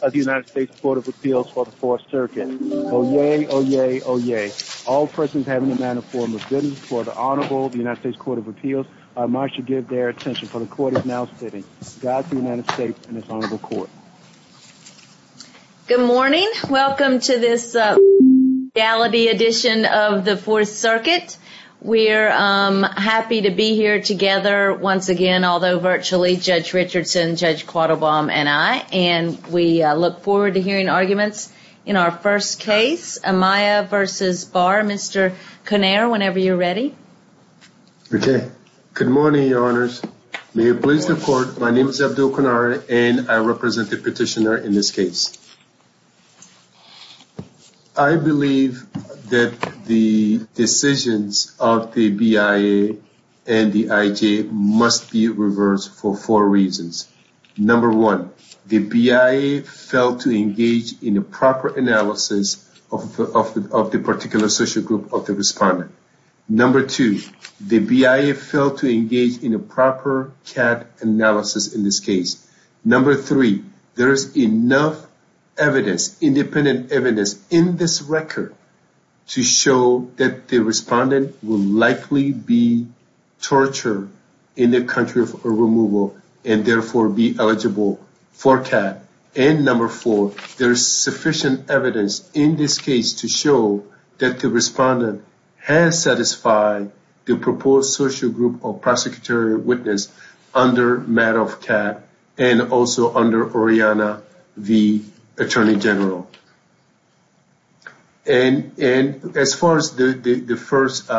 of the United States Court of Appeals for the Fourth Circuit. Oyez, oyez, oyez. All persons having a maniform of goodness before the Honorable United States Court of Appeals are admonished to give their attention, for the Court is now sitting. God, the United States, and His Honorable Court. Good morning. Welcome to this legality edition of the Fourth Circuit. We're happy to be here together once again, although virtually, Judge Richardson, Judge Quattlebaum, and I. And we look forward to hearing arguments in our first case. Amaya v. Barr. Mr. Connare, whenever you're ready. Okay. Good morning, Your Honors. May it please the Court, my name is Abdul Connare, and I represent the petitioner in this case. I believe that the decisions of the BIA and the IJ must be reversed for four reasons. Number one, the BIA failed to engage in a proper analysis of the particular social group of the respondent. Number two, the BIA failed to engage in a proper CAT analysis in this case. Number three, there is enough evidence, independent evidence, in this record to show that the respondent will likely be tortured in the country for removal and therefore be eligible for CAT. And number four, there's sufficient evidence in this case to show that the respondent has satisfied the proposed social group of prosecutorial witness under matter of CAT and also under Oriana v. Attorney General. And as far as the first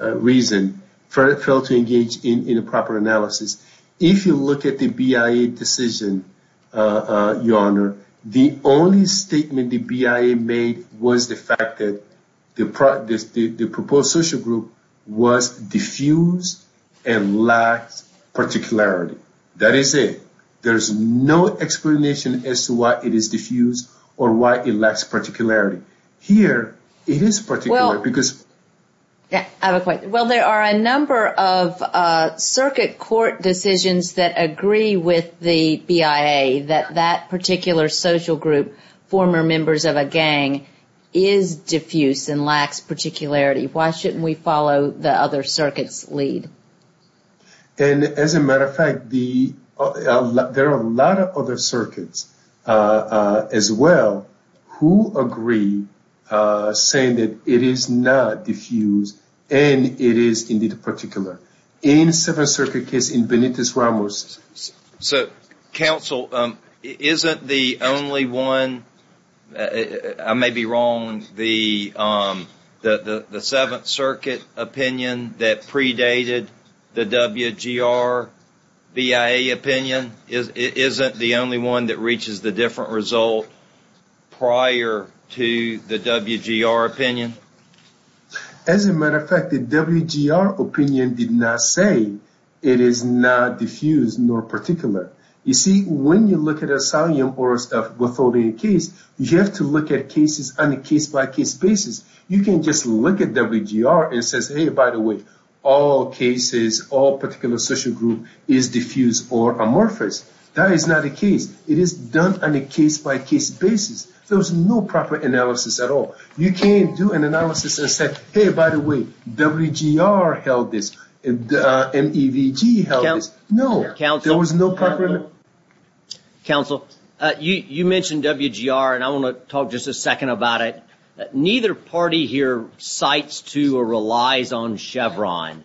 reason, failed to engage in a proper analysis, if you look at the BIA decision, Your Honor, the only statement the BIA made was the fact that the proposed social group was diffused and lacked particularity. That is it. There is no explanation as to why it is diffused or why it lacks particularity. Here, it is particular because... I have a question. Well, there are a number of circuit court decisions that agree with the BIA that that particular social group, former members of a gang, is diffused and lacks particularity. Why shouldn't we follow the other circuit's lead? And as a matter of fact, there are a lot of other circuits as well who agree saying that it is not diffused and it is indeed particular. In the Seventh Circuit case in Benitez-Ramos... So, counsel, isn't the only one... The WGR BIA opinion isn't the only one that reaches the different result prior to the WGR opinion? As a matter of fact, the WGR opinion did not say it is not diffused nor particular. You see, when you look at a solemn or a withholding case, you have to look at cases on a case-by-case basis. You can't just look at WGR and say, hey, by the way, all cases, all particular social groups, is diffused or amorphous. That is not the case. It is done on a case-by-case basis. There is no proper analysis at all. You can't do an analysis and say, hey, by the way, WGR held this. MEVG held this. No. There was no proper... Counsel, you mentioned WGR, and I want to talk just a second about it. Neither party here cites to or relies on Chevron.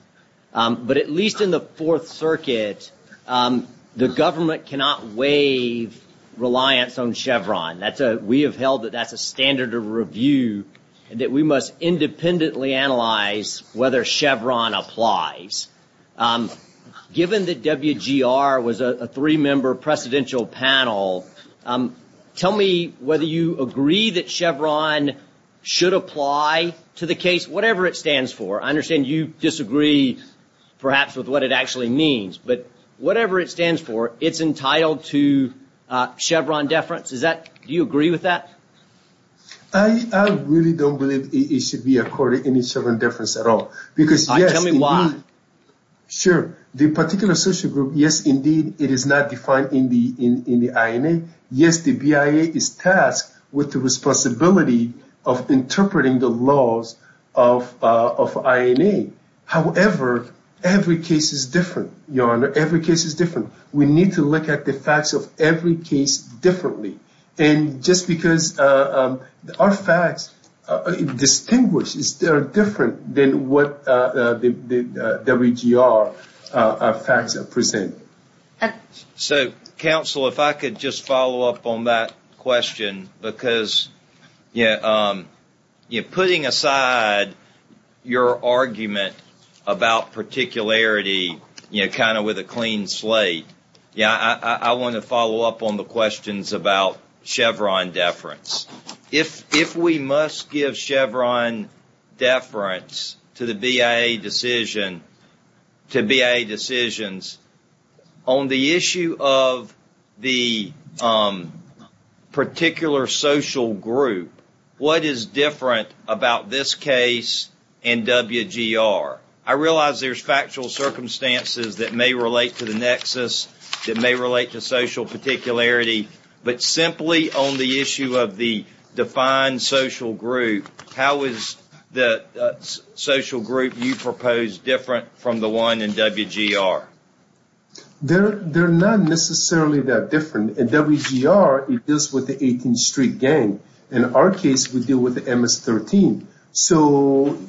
But at least in the Fourth Circuit, the government cannot waive reliance on Chevron. We have held that that's a standard of review and that we must independently analyze whether Chevron applies. Given that WGR was a three-member presidential panel, tell me whether you agree that Chevron should apply to the case, whatever it stands for. I understand you disagree, perhaps, with what it actually means. But whatever it stands for, it's entitled to Chevron deference. Do you agree with that? I really don't believe it should be accorded any Chevron deference at all. Tell me why. Sure. The particular social group, yes, indeed, it is not defined in the INA. Yes, the BIA is tasked with the responsibility of interpreting the laws of INA. However, every case is different, Your Honor. Every case is different. We need to look at the facts of every case differently. Just because our facts are distinguished, they are different than what the WGR facts present. Counsel, if I could just follow up on that question, because putting aside your argument about particularity kind of with a clean slate, I want to follow up on the questions about Chevron deference. If we must give Chevron deference to BIA decisions, on the issue of the particular social group, what is different about this case and WGR? I realize there's factual circumstances that may relate to the nexus, that may relate to social particularity, but simply on the issue of the defined social group, how is the social group you propose different from the one in WGR? They're not necessarily that different. In WGR, it deals with the 18th Street gang. In our case, we deal with the MS-13.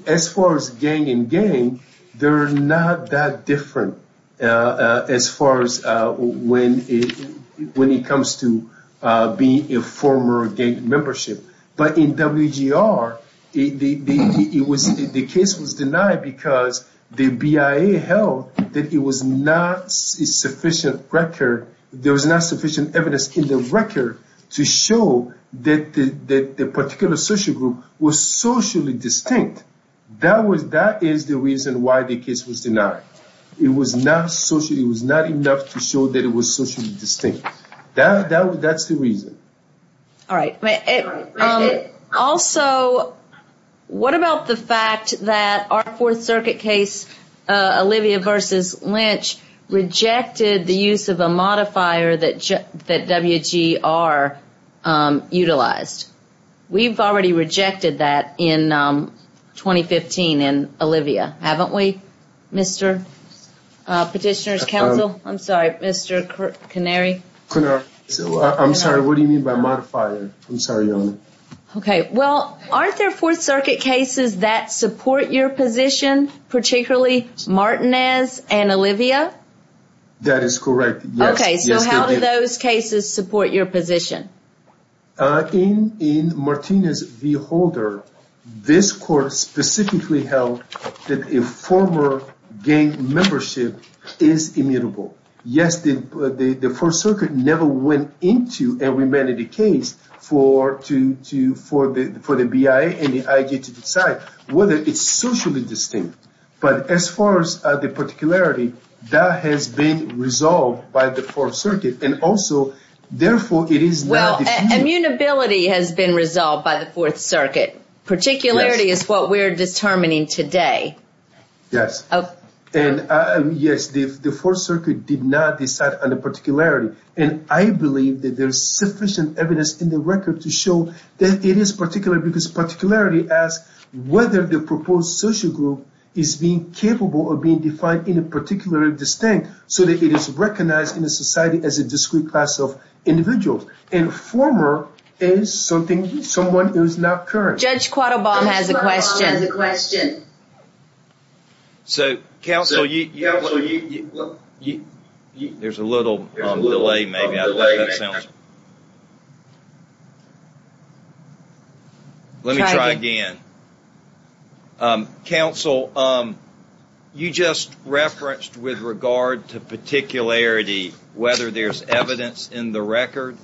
As far as gang and gang, they're not that different as far as when it comes to being a former gang membership. But in WGR, the case was denied because the BIA held that there was not sufficient evidence in the record to show that the particular social group was socially distinct. That is the reason why the case was denied. It was not enough to show that it was socially distinct. That's the reason. All right. Also, what about the fact that our Fourth Circuit case, Olivia v. Lynch, rejected the use of a modifier that WGR utilized? We've already rejected that in 2015 in Olivia, haven't we, Mr. Petitioner's counsel? I'm sorry, Mr. Canary? I'm sorry. What do you mean by modifier? I'm sorry. Okay. Well, aren't there Fourth Circuit cases that support your position, particularly Martinez and Olivia? That is correct. Okay. So how do those cases support your position? In Martinez v. Holder, this court specifically held that a former gang membership is immutable. Yes, the Fourth Circuit never went into a remanded case for the BIA and the IG to decide whether it's socially distinct. But as far as the particularity, that has been resolved by the Fourth Circuit. And also, therefore, it is not— Well, immutability has been resolved by the Fourth Circuit. Particularity is what we're determining today. Yes. Yes, the Fourth Circuit did not decide on the particularity. And I believe that there's sufficient evidence in the record to show that it is particular, because particularity asks whether the proposed social group is being capable of being defined in a particular distinct so that it is recognized in a society as a discrete class of individuals. And former is someone who is not current. Judge Quattobom has a question. Judge Quattobom has a question. So, counsel, you— There's a little delay, maybe. Let me try again. Counsel, you just referenced with regard to particularity whether there's evidence in the record.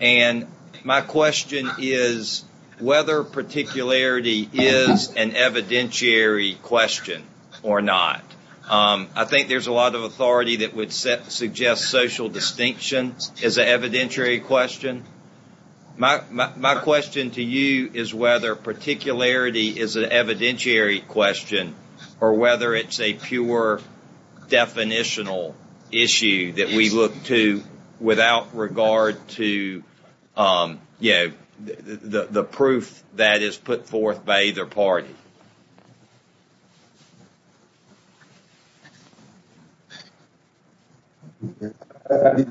And my question is whether particularity is an evidentiary question or not. I think there's a lot of authority that would suggest social distinction is an evidentiary question. My question to you is whether particularity is an evidentiary question or whether it's a pure definitional issue that we look to without regard to, you know, the proof that is put forth by either party. Thank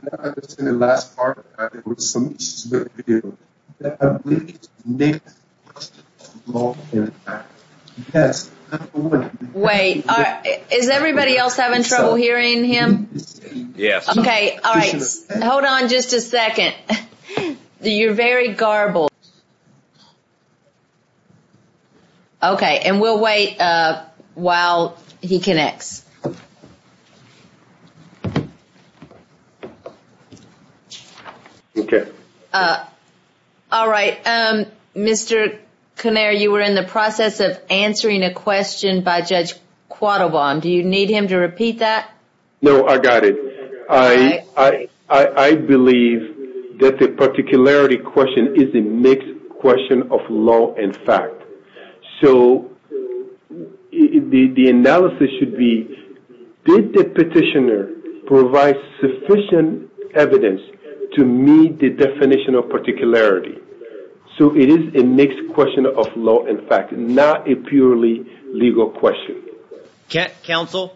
you. Wait. Is everybody else having trouble hearing him? Yes. Okay. All right. Hold on just a second. You're very garbled. And we'll wait while he connects. Okay. All right. Mr. Connare, you were in the process of answering a question by Judge Quattobom. Do you need him to repeat that? No, I got it. I believe that the particularity question is a mixed question of law and fact. So the analysis should be, did the petitioner provide sufficient evidence to meet the definition of particularity? So it is a mixed question of law and fact, not a purely legal question. Counsel,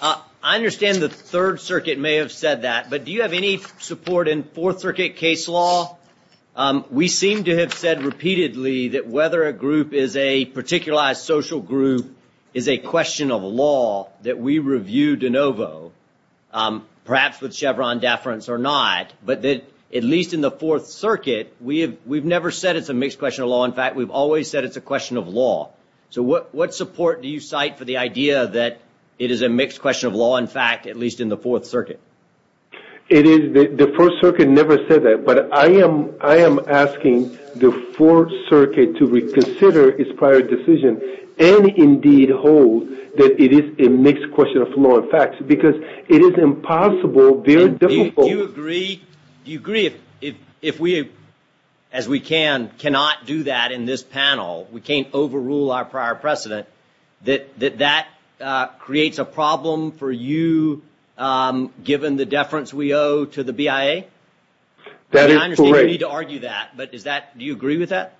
I understand the Third Circuit may have said that, but do you have any support in Fourth Circuit case law? We seem to have said repeatedly that whether a group is a particularized social group is a question of law that we review de novo, perhaps with Chevron deference or not, but that at least in the Fourth Circuit, we've never said it's a mixed question of law. In fact, we've always said it's a question of law. So what support do you cite for the idea that it is a mixed question of law, in fact, at least in the Fourth Circuit? The First Circuit never said that, but I am asking the Fourth Circuit to reconsider its prior decision and indeed hold that it is a mixed question of law and fact, because it is impossible, very difficult. Do you agree if we, as we can, cannot do that in this panel, we can't overrule our prior precedent, that that creates a problem for you, given the deference we owe to the BIA? That is correct. I understand you need to argue that, but do you agree with that?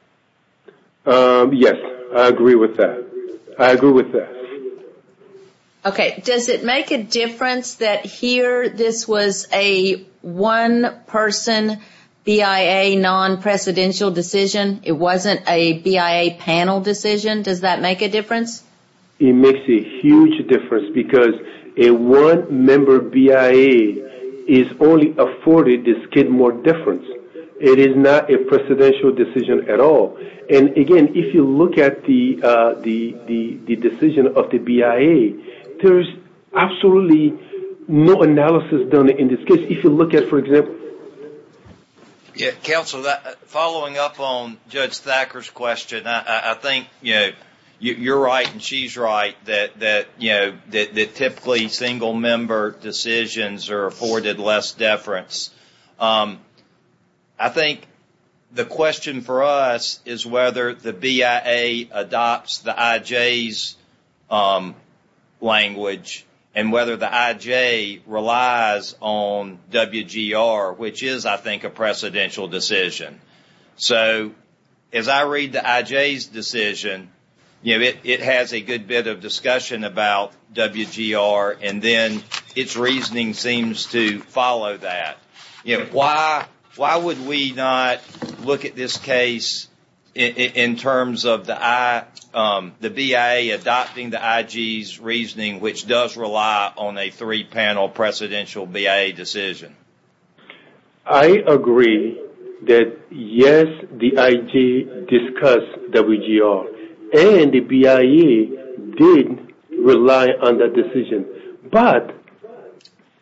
Yes, I agree with that. I agree with that. Okay, does it make a difference that here this was a one-person BIA non-presidential decision? It wasn't a BIA panel decision? Does that make a difference? It makes a huge difference, because a one-member BIA is only afforded this kid more deference. It is not a presidential decision at all. And again, if you look at the decision of the BIA, there is absolutely no analysis done in this case. If you look at, for example... Counsel, following up on Judge Thacker's question, I think you are right and she is right, that typically single-member decisions are afforded less deference. I think the question for us is whether the BIA adopts the IJ's language, and whether the IJ relies on WGR, which is, I think, a presidential decision. So, as I read the IJ's decision, it has a good bit of discussion about WGR, and then its reasoning seems to follow that. Why would we not look at this case in terms of the BIA adopting the IJ's reasoning, when it does rely on a three-panel presidential BIA decision? I agree that, yes, the IJ discussed WGR, and the BIA did rely on that decision. But,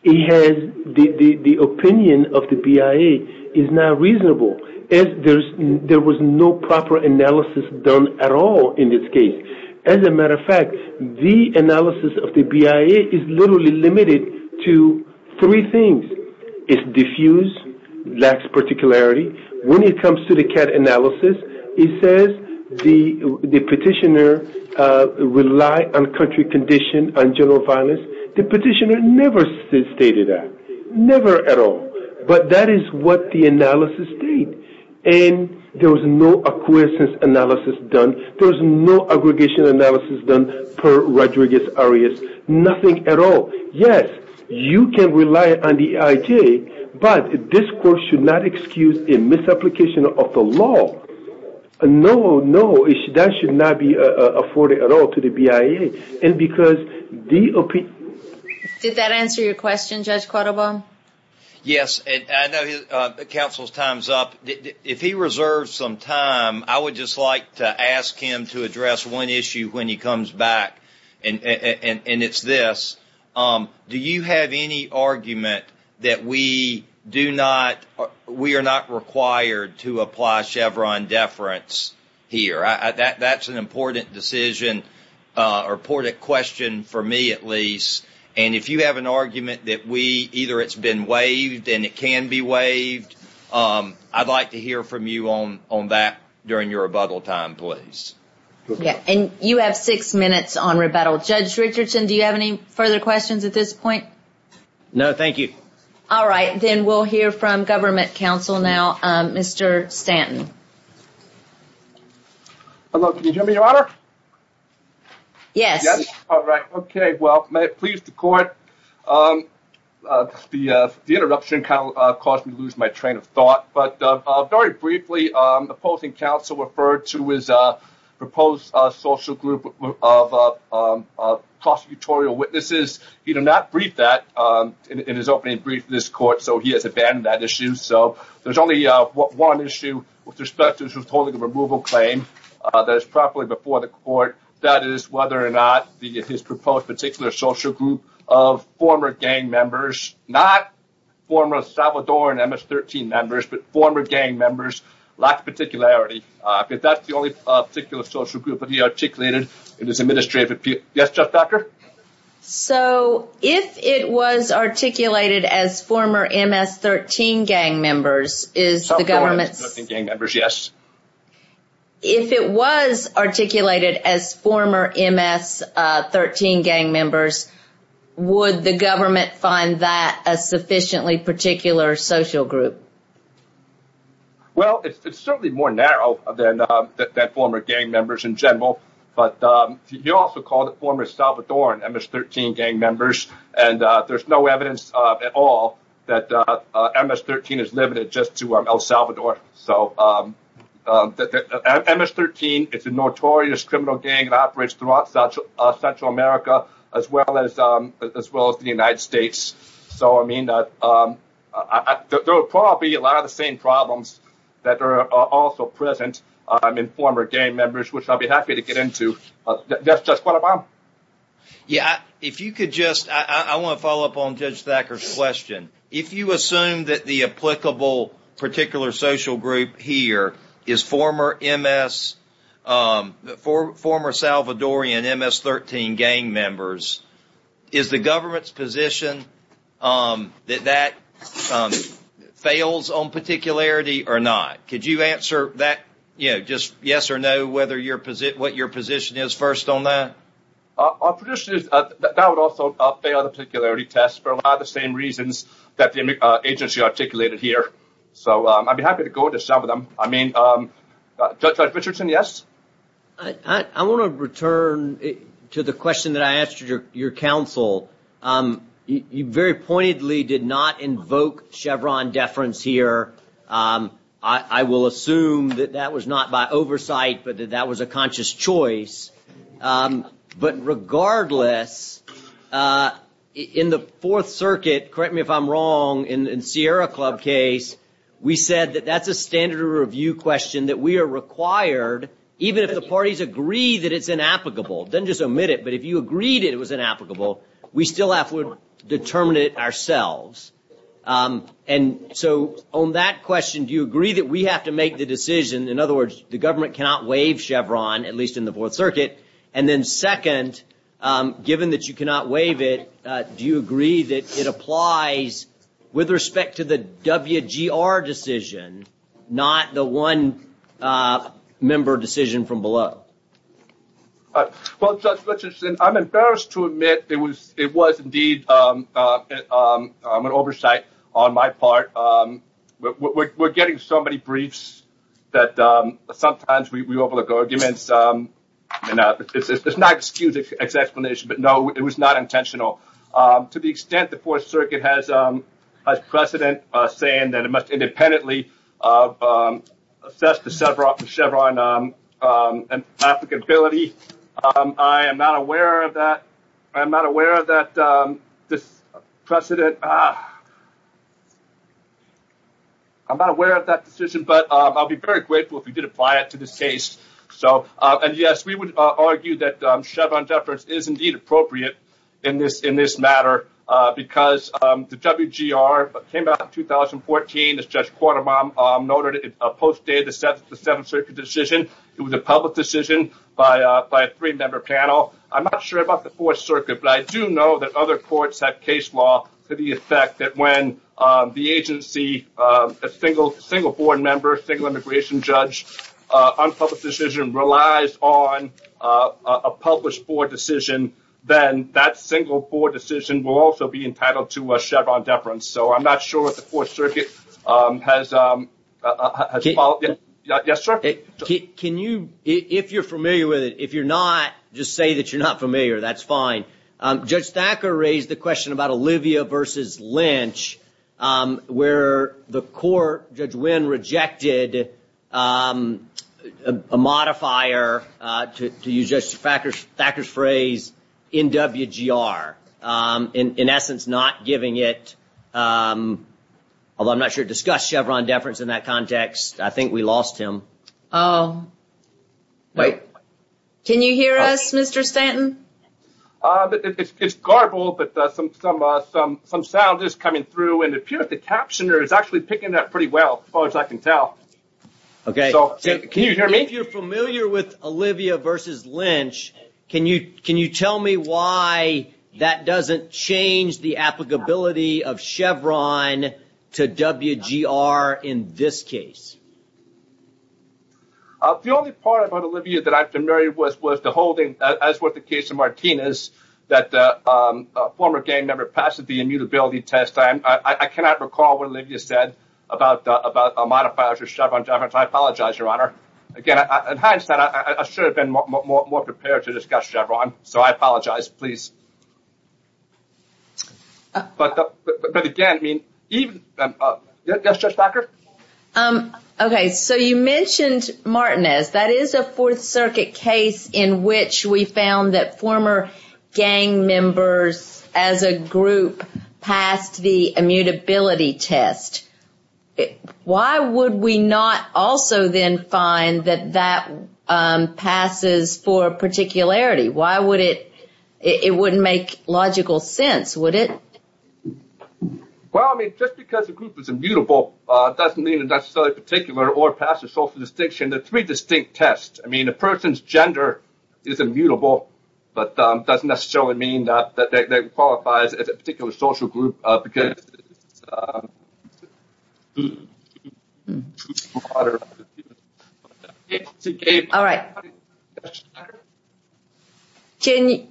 the opinion of the BIA is not reasonable. There was no proper analysis done at all in this case. As a matter of fact, the analysis of the BIA is literally limited to three things. It is diffused, lacks particularity. When it comes to the CAT analysis, it says the petitioner relied on country conditions and general violence. The petitioner never stated that, never at all. But that is what the analysis states. There was no acquiescence analysis done. There was no aggregation analysis done per Rodriguez-Arias. Nothing at all. Yes, you can rely on the IJ, but this court should not excuse a misapplication of the law. No, no, that should not be afforded at all to the BIA. Did that answer your question, Judge Cordova? Yes, and I know Council's time is up. If he reserves some time, I would just like to ask him to address one issue when he comes back, and it's this. Do you have any argument that we do not, we are not required to apply Chevron deference here? That's an important decision, or important question for me at least. And if you have an argument that we, either it's been waived and it can be waived, I'd like to hear from you on that during your rebuttal time, please. And you have six minutes on rebuttal. Judge Richardson, do you have any further questions at this point? No, thank you. All right, then we'll hear from Government Counsel now, Mr. Stanton. Hello, can you hear me, Your Honor? Yes. All right, okay, well, may it please the Court, the interruption caused me to lose my train of thought. But very briefly, opposing counsel referred to his proposed social group of prosecutorial witnesses. He did not brief that in his opening brief to this Court, so he has abandoned that issue. So there's only one issue with respect to withholding a removal claim that is properly before the Court. That is whether or not his proposed particular social group of former gang members, not former Salvadoran MS-13 members, but former gang members, lacks particularity. Because that's the only particular social group that he articulated in his administrative appeal. Yes, Judge Becker? So, if it was articulated as former MS-13 gang members, is the Government's... Salvadoran MS-13 gang members, yes. If it was articulated as former MS-13 gang members, would the Government find that a sufficiently particular social group? Well, it's certainly more narrow than former gang members in general. But he also called it former Salvadoran MS-13 gang members. And there's no evidence at all that MS-13 is limited just to El Salvador. So, MS-13 is a notorious criminal gang that operates throughout Central America, as well as the United States. So, I mean, there will probably be a lot of the same problems that are also present in former gang members, which I'll be happy to get into. That's just what I'm on. Yeah, if you could just... I want to follow up on Judge Thacker's question. If you assume that the applicable particular social group here is former Salvadoran MS-13 gang members, is the Government's position that that fails on particularity or not? Could you answer that, you know, just yes or no, what your position is first on that? Our position is that that would also fail the particularity test for a lot of the same reasons that the agency articulated here. So, I'd be happy to go into some of them. I mean, Judge Richardson, yes? I want to return to the question that I asked your counsel. You very pointedly did not invoke Chevron deference here. I will assume that that was not by oversight, but that that was a conscious choice. But regardless, in the Fourth Circuit, correct me if I'm wrong, in Sierra Club case, we said that that's a standard of review question that we are required, even if the parties agree that it's inapplicable, it doesn't just omit it, but if you agreed it was inapplicable, we still have to determine it ourselves. And so, on that question, do you agree that we have to make the decision, in other words, the government cannot waive Chevron, at least in the Fourth Circuit, and then second, given that you cannot waive it, do you agree that it applies with respect to the WGR decision, not the one-member decision from below? Well, Judge Richardson, I'm embarrassed to admit it was indeed an oversight on my part. We're getting so many briefs that sometimes we overlook arguments. It's not an excused explanation, but no, it was not intentional. To the extent the Fourth Circuit has precedent saying that it must independently assess the Chevron applicability, I am not aware of that decision, but I'll be very grateful if you did apply it to this case. And yes, we would argue that Chevron deference is indeed appropriate in this matter, because the WGR came out in 2014, as Judge Quartermann noted, it postdated the Seventh Circuit decision. It was a public decision by a three-member panel. I'm not sure about the Fourth Circuit, but I do know that other courts have case law to the effect that when the agency, a single board member, a single immigration judge, on a public decision relies on a published board decision, then that single board decision will also be entitled to a Chevron deference. So I'm not sure what the Fourth Circuit has followed. Yes, sir? If you're familiar with it. If you're not, just say that you're not familiar. That's fine. Judge Thacker raised the question about Olivia versus Lynch, where the court, Judge Winn, rejected a modifier, to use Judge Thacker's phrase, in WGR. In essence, not giving it, although I'm not sure it discussed Chevron deference in that context. I think we lost him. Oh. Can you hear us, Mr. Stanton? It's garbled, but some sound is coming through, and it appears the captioner is actually picking up pretty well, as far as I can tell. Okay. Can you hear me? If you're familiar with Olivia versus Lynch, can you tell me why that doesn't change the applicability of Chevron to WGR in this case? The only part about Olivia that I'm familiar with was the holding, as with the case of Martinez, that a former gang member passed the immutability test. I cannot recall what Olivia said about a modifier for Chevron deference. I apologize, Your Honor. Again, in hindsight, I should have been more prepared to discuss Chevron, so I apologize. Please. But again, even... Yes, Judge Thacker? Okay, so you mentioned Martinez. That is a Fourth Circuit case in which we found that former gang members as a group passed the immutability test. Why would we not also then find that that passes for particularity? Why would it... It wouldn't make logical sense, would it? Well, I mean, just because a group is immutable doesn't mean it's necessarily particular or passes social distinction. There are three distinct tests. I mean, a person's gender is immutable, but that doesn't necessarily mean that they qualify as a particular social group, because it's... All right. Judge Thacker?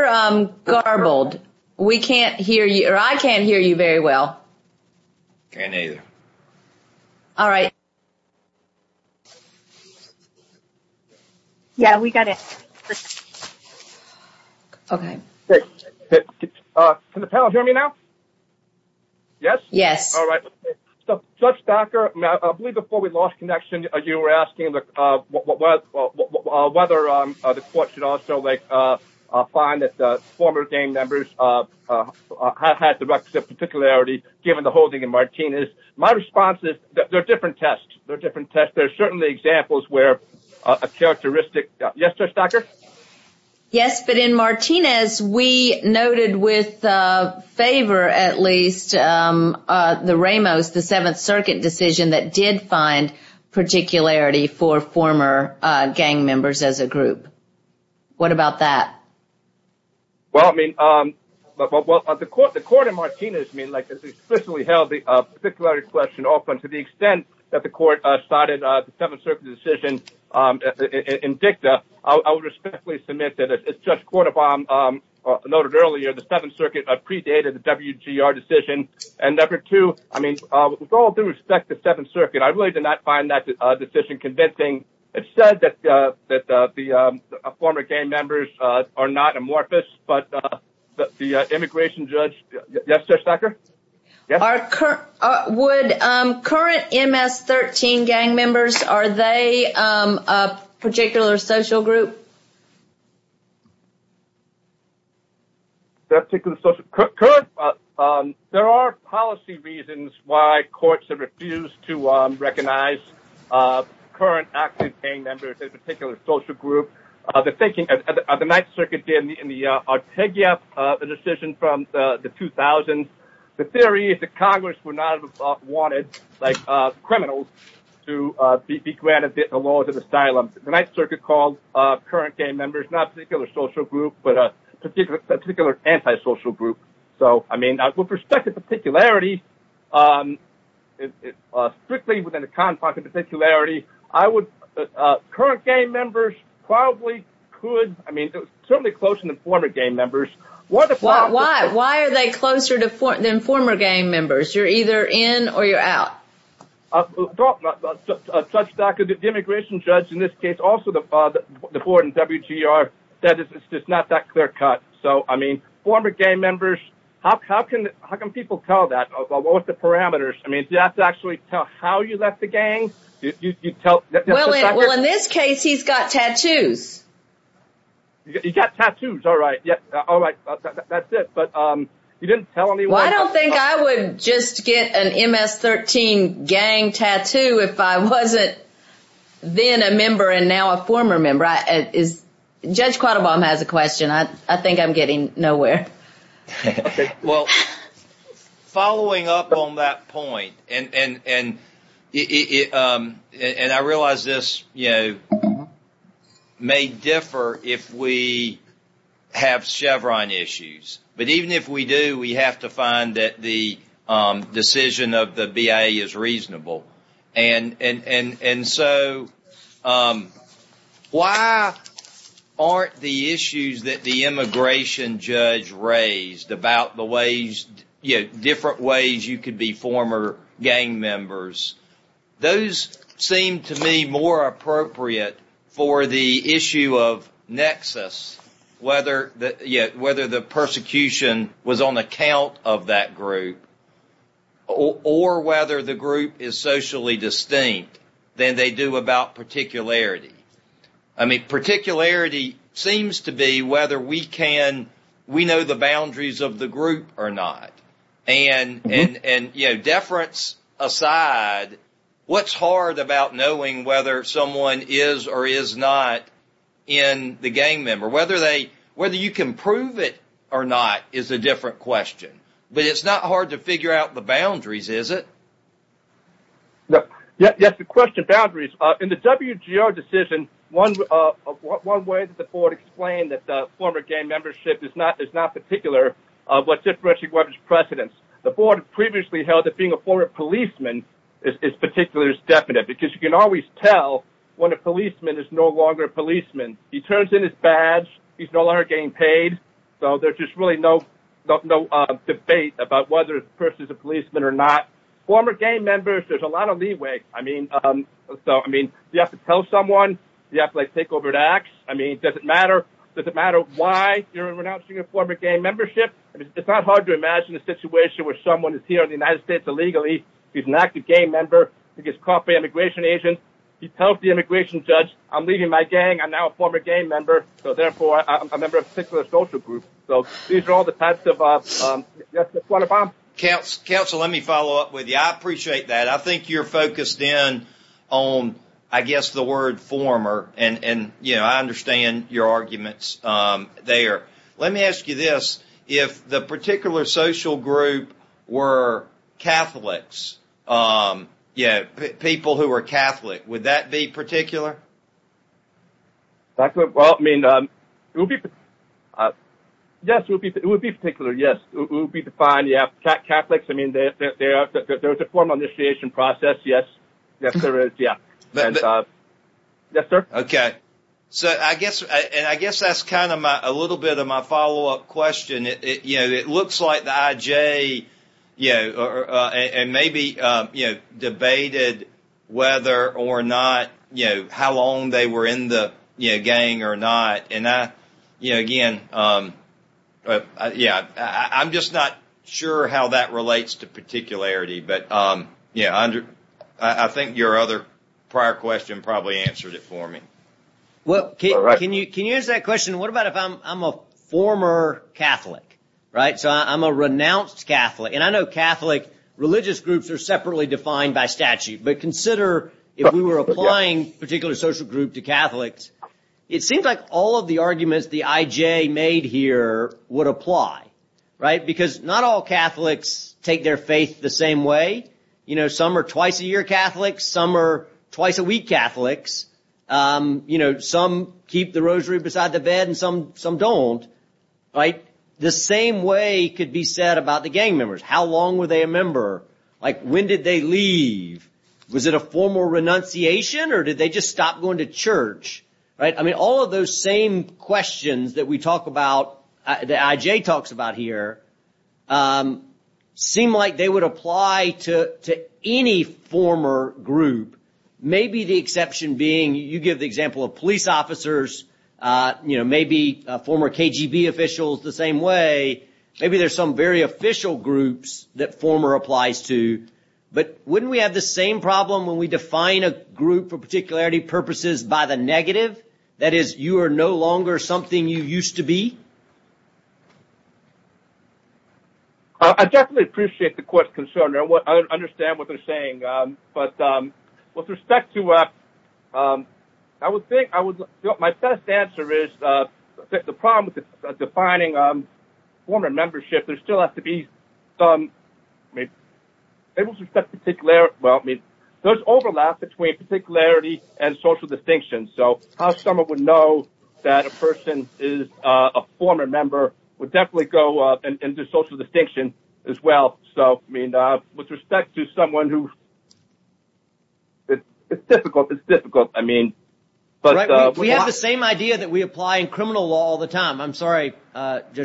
You're garbled. We can't hear you, or I can't hear you very well. Can't either. All right. Yeah, we got it. Okay. Can the panel hear me now? Yes? Yes. All right. So, Judge Thacker, I believe before we lost connection, you were asking whether the court should also find that the former gang members have had the requisite particularity, given the holding in Martinez. My response is there are different tests. There are different tests. There are certainly examples where a characteristic... Yes, Judge Thacker? Yes, but in Martinez, we noted with favor, at least, the Ramos, the Seventh Circuit decision that did find particularity for former gang members as a group. What about that? Well, I mean, the court in Martinez explicitly held the particularity question open to the extent that the court cited the Seventh Circuit decision in dicta. I would respectfully submit that, as Judge Cordova noted earlier, the Seventh Circuit predated the WGR decision. And number two, with all due respect to Seventh Circuit, I really did not find that decision convincing. It said that the former gang members are not amorphous, but the immigration judge... Yes, Judge Thacker? Would current MS-13 gang members, are they a particular social group? That particular social... Current... There are policy reasons why courts have refused to recognize current active gang members as a particular social group. The thinking of the Ninth Circuit in the Artegia decision from the 2000s, the theory is that Congress would not have wanted criminals to be granted the law of asylum. The Ninth Circuit called current gang members not a particular social group, but a particular anti-social group. So, I mean, with respect to particularity, strictly within the confines of particularity, current gang members probably could... I mean, certainly closer than former gang members. Why are they closer than former gang members? You're either in or you're out. Judge Thacker, the immigration judge in this case, also the board in WGR, said it's just not that clear-cut. So, I mean, former gang members, how can people tell that? What were the parameters? I mean, do you have to actually tell how you left the gang? Well, in this case, he's got tattoos. He's got tattoos, all right. That's it. But you didn't tell anyone? Well, I don't think I would just get an MS-13 gang tattoo if I wasn't then a member and now a former member. Judge Quattlebaum has a question. I think I'm getting nowhere. Well, following up on that point, and I realize this may differ if we have Chevron issues. But even if we do, we have to find that the decision of the BIA is reasonable. And so, why aren't the issues that the immigration judge raised about the ways, you know, different ways you could be former gang members, those seem to me more appropriate for the issue of nexus, whether the persecution was on account of that group or whether the group is socially distinct than they do about particularity. I mean, particularity seems to be whether we know the boundaries of the group or not. And, you know, deference aside, what's hard about knowing whether someone is or is not in the gang member? Whether you can prove it or not is a different question. But it's not hard to figure out the boundaries, is it? Yes, the question, boundaries. In the WGR decision, one way that the board explained that the former gang membership is not particular, what's different is whether there's precedence. The board previously held that being a former policeman is particular, is definite. Because you can always tell when a policeman is no longer a policeman. He turns in his badge, he's no longer getting paid. So there's just really no debate about whether the person is a policeman or not. Former gang members, there's a lot of leeway. I mean, you have to tell someone, you have to, like, take over the acts. I mean, does it matter? Does it matter why you're renouncing your former gang membership? It's not hard to imagine a situation where someone is here in the United States illegally, he's an active gang member, he gets caught by immigration agents, he tells the immigration judge, I'm leaving my gang, I'm now a former gang member, so therefore I'm a member of a particular social group. So these are all the types of... Council, let me follow up with you. I appreciate that. I think you're focused in on, I guess, the word former. And I understand your arguments there. Let me ask you this. If the particular social group were Catholics, people who are Catholic, would that be particular? Well, I mean, yes, it would be particular, yes. It would be defined, yeah. Catholics, I mean, there's a formal initiation process, yes. Yes, there is, yeah. Yes, sir. Okay. And I guess that's kind of a little bit of my follow-up question. You know, it looks like the IJ, you know, and maybe debated whether or not, you know, how long they were in the gang or not. And I, you know, again, yeah, I'm just not sure how that relates to particularity. But, yeah, I think your other prior question probably answered it for me. Well, can you answer that question? What about if I'm a former Catholic, right? So I'm a renounced Catholic. And I know Catholic religious groups are separately defined by statute. But consider if we were applying particular social group to Catholics, it seems like all of the arguments the IJ made here would apply, right? Because not all Catholics take their faith the same way. You know, some are twice a year Catholics. Some are twice a week Catholics. You know, some keep the rosary beside the bed and some don't, right? The same way could be said about the gang members. How long were they a member? Like, when did they leave? Was it a formal renunciation or did they just stop going to church, right? I mean, all of those same questions that we talk about, the IJ talks about here, seem like they would apply to any former group. Maybe the exception being, you give the example of police officers. You know, maybe former KGB officials the same way. Maybe there's some very official groups that former applies to. But wouldn't we have the same problem when we define a group for particularity purposes by the negative? That is, you are no longer something you used to be? I definitely appreciate the question. I understand what they're saying. But with respect to, I would think, my best answer is, the problem with defining former membership, there still has to be some, there's overlap between particularity and social distinction. So how someone would know that a person is a former member would definitely go into social distinction as well. So, I mean, with respect to someone who, it's difficult, it's difficult, I mean. We have the same idea that we apply in criminal law all the time. I'm sorry. We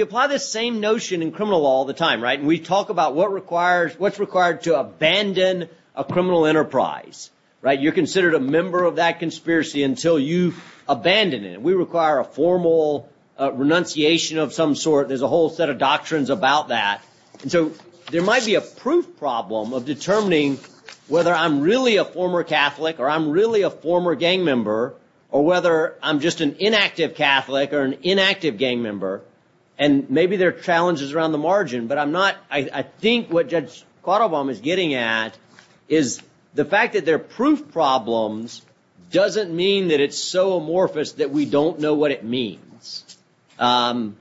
apply this same notion in criminal law all the time. We talk about what's required to abandon a criminal enterprise. You're considered a member of that conspiracy until you abandon it. We require a formal renunciation of some sort. There's a whole set of doctrines about that. And so there might be a proof problem of determining whether I'm really a former Catholic or I'm really a former gang member or whether I'm just an inactive Catholic or an inactive gang member. And maybe there are challenges around the margin. But I'm not, I think what Judge Quattlebaum is getting at is the fact that there are proof problems doesn't mean that it's so amorphous that we don't know what it means. And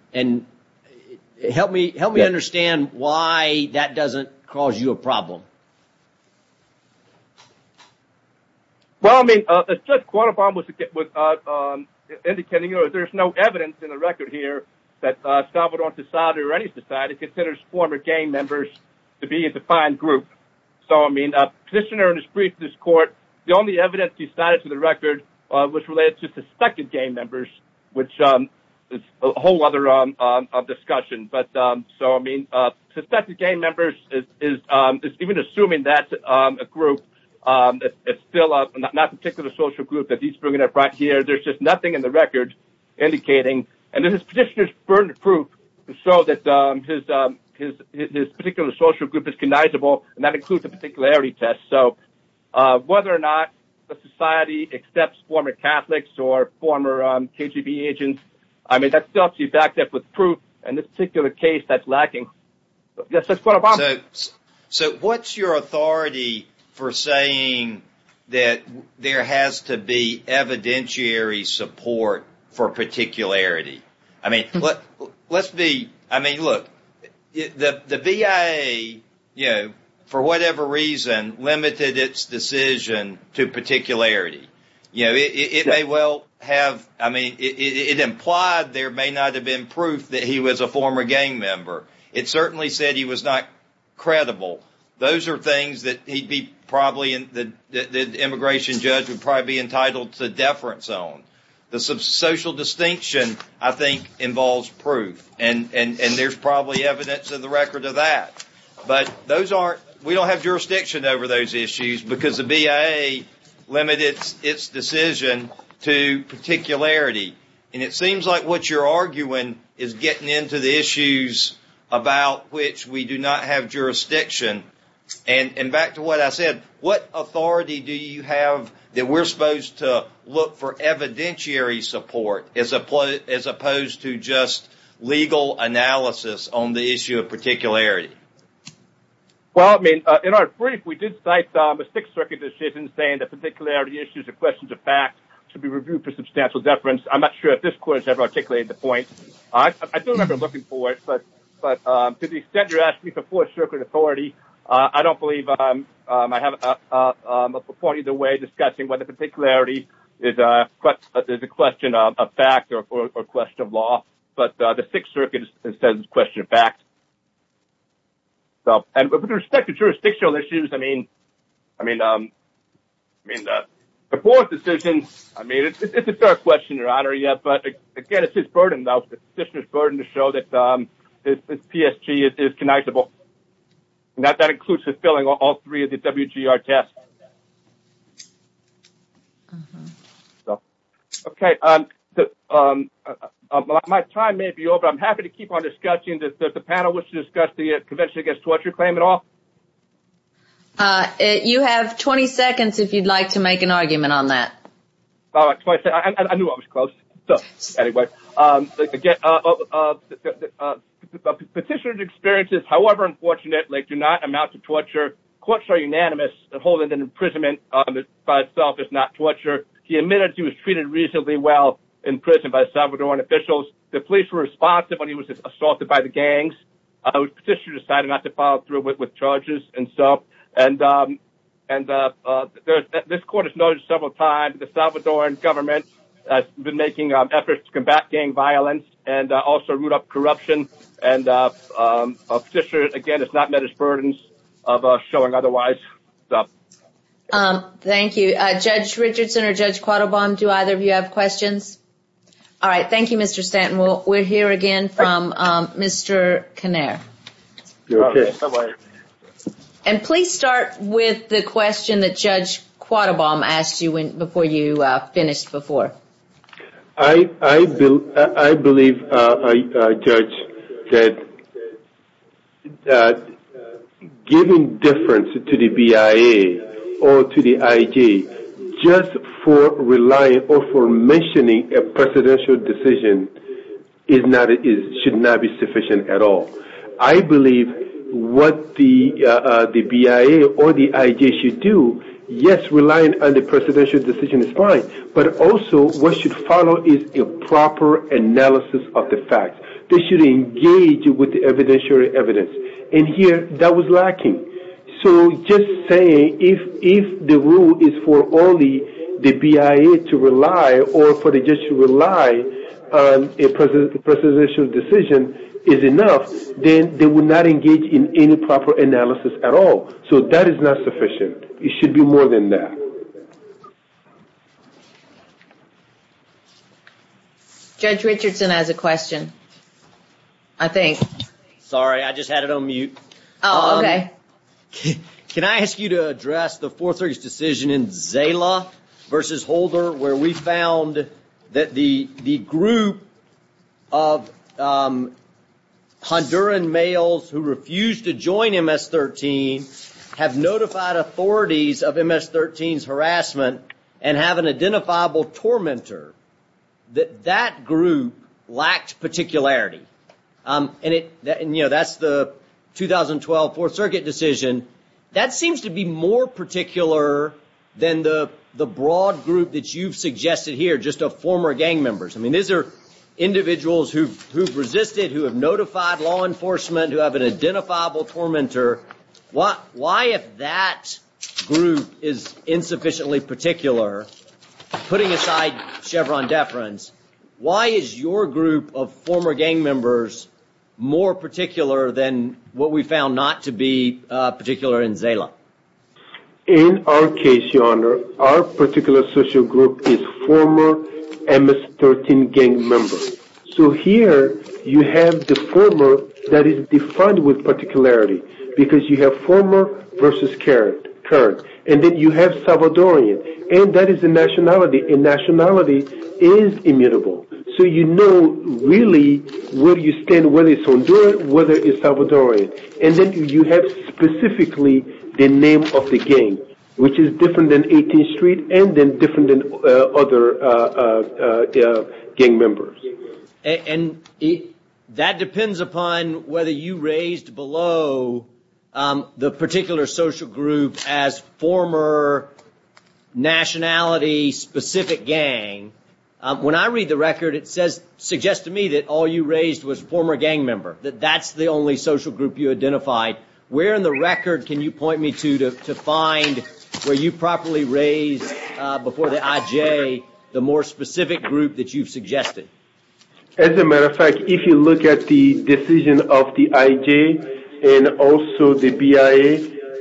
help me understand why that doesn't cause you a problem. Well, I mean, as Judge Quattlebaum was indicating, there's no evidence in the record here that Salvadoran society or any society considers former gang members to be a defined group. So, I mean, the petitioner in his brief to this court, the only evidence he cited to the record was related to suspected gang members, which is a whole other discussion. But so, I mean, suspected gang members is even assuming that's a group. It's still not a particular social group that he's bringing up right here. There's just nothing in the record indicating. And this petitioner's burned proof to show that his particular social group is cognizable. And that includes the particularity test. So whether or not the society accepts former Catholics or former KGB agents, I mean, that stuff is backed up with proof. And this particular case, that's lacking. Judge Quattlebaum. So what's your authority for saying that there has to be evidentiary support for particularity? I mean, let's be, I mean, look, the BIA, you know, for whatever reason, limited its decision to particularity. You know, it may well have, I mean, it implied there may not have been proof that he was a former gang member. It certainly said he was not credible. Those are things that he'd be probably, that the immigration judge would probably be entitled to deference on. The social distinction, I think, involves proof. And there's probably evidence in the record of that. But those aren't, we don't have jurisdiction over those issues because the BIA limited its decision to particularity. And it seems like what you're arguing is getting into the issues about which we do not have jurisdiction. And back to what I said, what authority do you have that we're supposed to look for evidentiary support as opposed to just legal analysis on the issue of particularity? Well, I mean, in our brief, we did cite the Sixth Circuit decision saying that particularity issues are questions of fact should be reviewed for substantial deference. I'm not sure if this court has ever articulated the point. I don't remember looking for it, but to the extent you're asking me for Fourth Circuit authority, I don't believe I have a point either way discussing whether particularity is a question of fact or a question of law. But the Sixth Circuit says it's a question of fact. So, and with respect to jurisdictional issues, I mean, the fourth decision, I mean, it's a fair question, Your Honor, but again, it's his burden, it's the petitioner's burden to show that this PSG is connectable. And that includes the filling of all three of the WGR tests. So, okay. My time may be over. I'm happy to keep on discussing if the panel wants to discuss the Convention Against Torture claim at all. You have 20 seconds if you'd like to make an argument on that. All right, 20 seconds. I knew I was close. So, anyway. Petitioner experiences, however unfortunate, do not amount to torture. Courts are unanimous that holding an imprisonment by itself is not torture. He admitted he was treated reasonably well in prison by Salvadoran officials. The police were responsive when he was assaulted by the gangs. Petitioner decided not to follow through with charges and so. This court has noted several times the Salvadoran government has been making efforts to combat gang violence and also root out corruption. Petitioner, again, has not met his burdens of showing otherwise. Thank you. Judge Richardson or Judge Quattlebaum, do either of you have questions? All right, thank you, Mr. Stanton. We'll hear again from Mr. Kinnear. You're okay. And please start with the question that Judge Quattlebaum asked you before you finished before. I believe, Judge, that giving difference to the BIA or to the IG just for relying or for mentioning a presidential decision should not be sufficient at all. I believe what the BIA or the IG should do, yes, relying on the presidential decision is fine, but also what should follow is a proper analysis of the facts. They should engage with the evidentiary evidence. And here, that was lacking. So just saying that if the rule is for only the BIA to rely or for the judge to rely on a presidential decision is enough, then they would not engage in any proper analysis at all. So that is not sufficient. It should be more than that. Judge Richardson has a question, I think. Sorry, I just had it on mute. Oh, okay. Can I ask you to address the Fourth Circuit's decision in Zala versus Holder where we found that the group of Honduran males who refused to join MS-13 have notified authorities of MS-13's harassment and have an identifiable tormentor, that that group lacked particularity. And that's the 2012 Fourth Circuit decision. That seems to be more particular than the broad group that you've suggested here, just of former gang members. I mean, these are individuals who've resisted, who have notified law enforcement, who have an identifiable tormentor. Why, if that group is insufficiently particular, putting aside Chevron deference, why is your group of former gang members more particular than what we found not to be particular in Zala? In our case, Your Honor, our particular social group is former MS-13 gang members. So here, you have the former that is defined with particularity because you have former versus current. And then you have Salvadorian. And that is a nationality, and nationality is immutable. So you know, really, where you stand, whether it's Honduran, whether it's Salvadorian. And then you have specifically the name of the gang, which is different than 18th Street and then different than other gang members. And that depends upon whether you raised below the particular social group as former nationality-specific gang. When I read the record, it suggests to me that all you raised was former gang member. That that's the only social group you identified. Where in the record can you point me to to find where you properly raised before the IJ the more specific group that you've suggested? As a matter of fact, if you look at the decision of the IJ and also the BIA,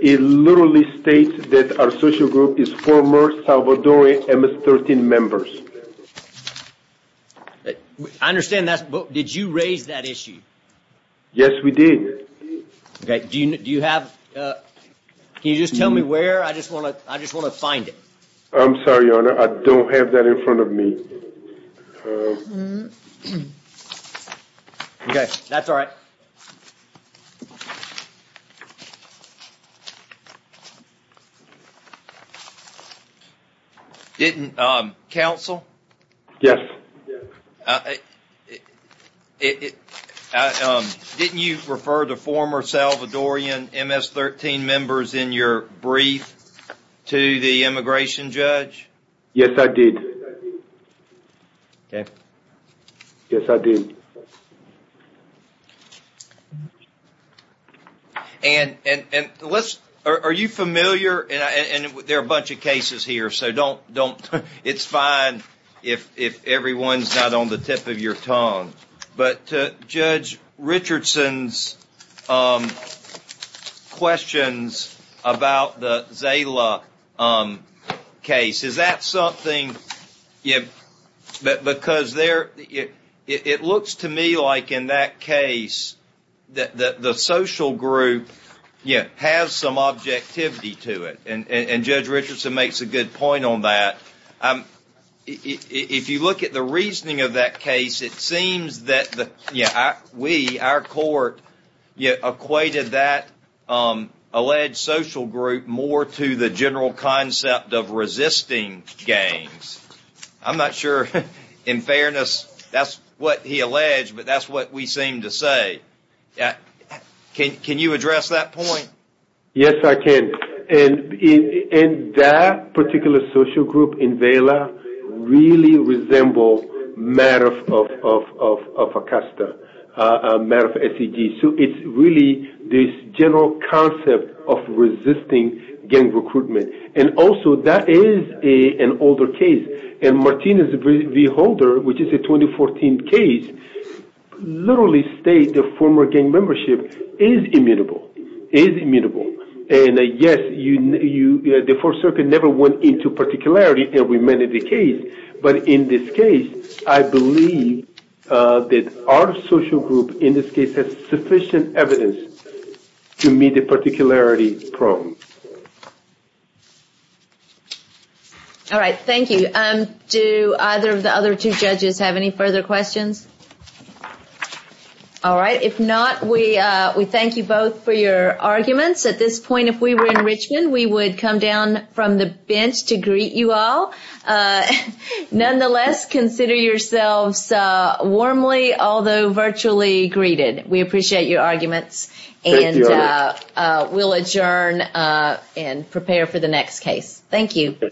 it literally states that our social group is former Salvadorian MS-13 members. I understand that. But did you raise that issue? Yes, we did. Do you have Can you just tell me where? I just want to I just want to find it. I'm sorry, Your Honor. I don't have that in front of me. OK, that's all right. Didn't counsel? Yes. It didn't you refer the former Salvadorian MS-13 members in your brief to the immigration judge? Yes, I did. OK. Yes, I did. And and let's are you familiar? And there are a bunch of cases here. So don't don't it's fine if if everyone's not on the tip of your tongue. But Judge Richardson's questions about the Zala case, is that something that because there it looks to me like in that case that the social group has some objectivity to it. And Judge Richardson makes a good point on that. If you look at the reasoning of that case, it seems that we, our court, equated that alleged social group more to the general concept of resisting gangs. I'm not sure in fairness, that's what he alleged. But that's what we seem to say. Can you address that point? Yes, I can. And that particular social group in Zala really resembles Maref of Acosta, Maref SEG. So it's really this general concept of resisting gang recruitment. And also that is an older case. And Martinez v. Holder, which is a 2014 case, literally states the former gang membership is immutable, is immutable. And yes, the Fourth Circuit never went into particularity and remanded the case. But in this case, I believe that our social group in this case has sufficient evidence to meet the particularity problem. All right. Thank you. Do either of the other two judges have any further questions? All right. If not, we thank you both for your arguments. At this point, if we were in Richmond, we would come down from the bench to greet you all. Nonetheless, consider yourselves warmly, although virtually, greeted. We appreciate your arguments. And we'll adjourn and prepare for the next case. Thank you.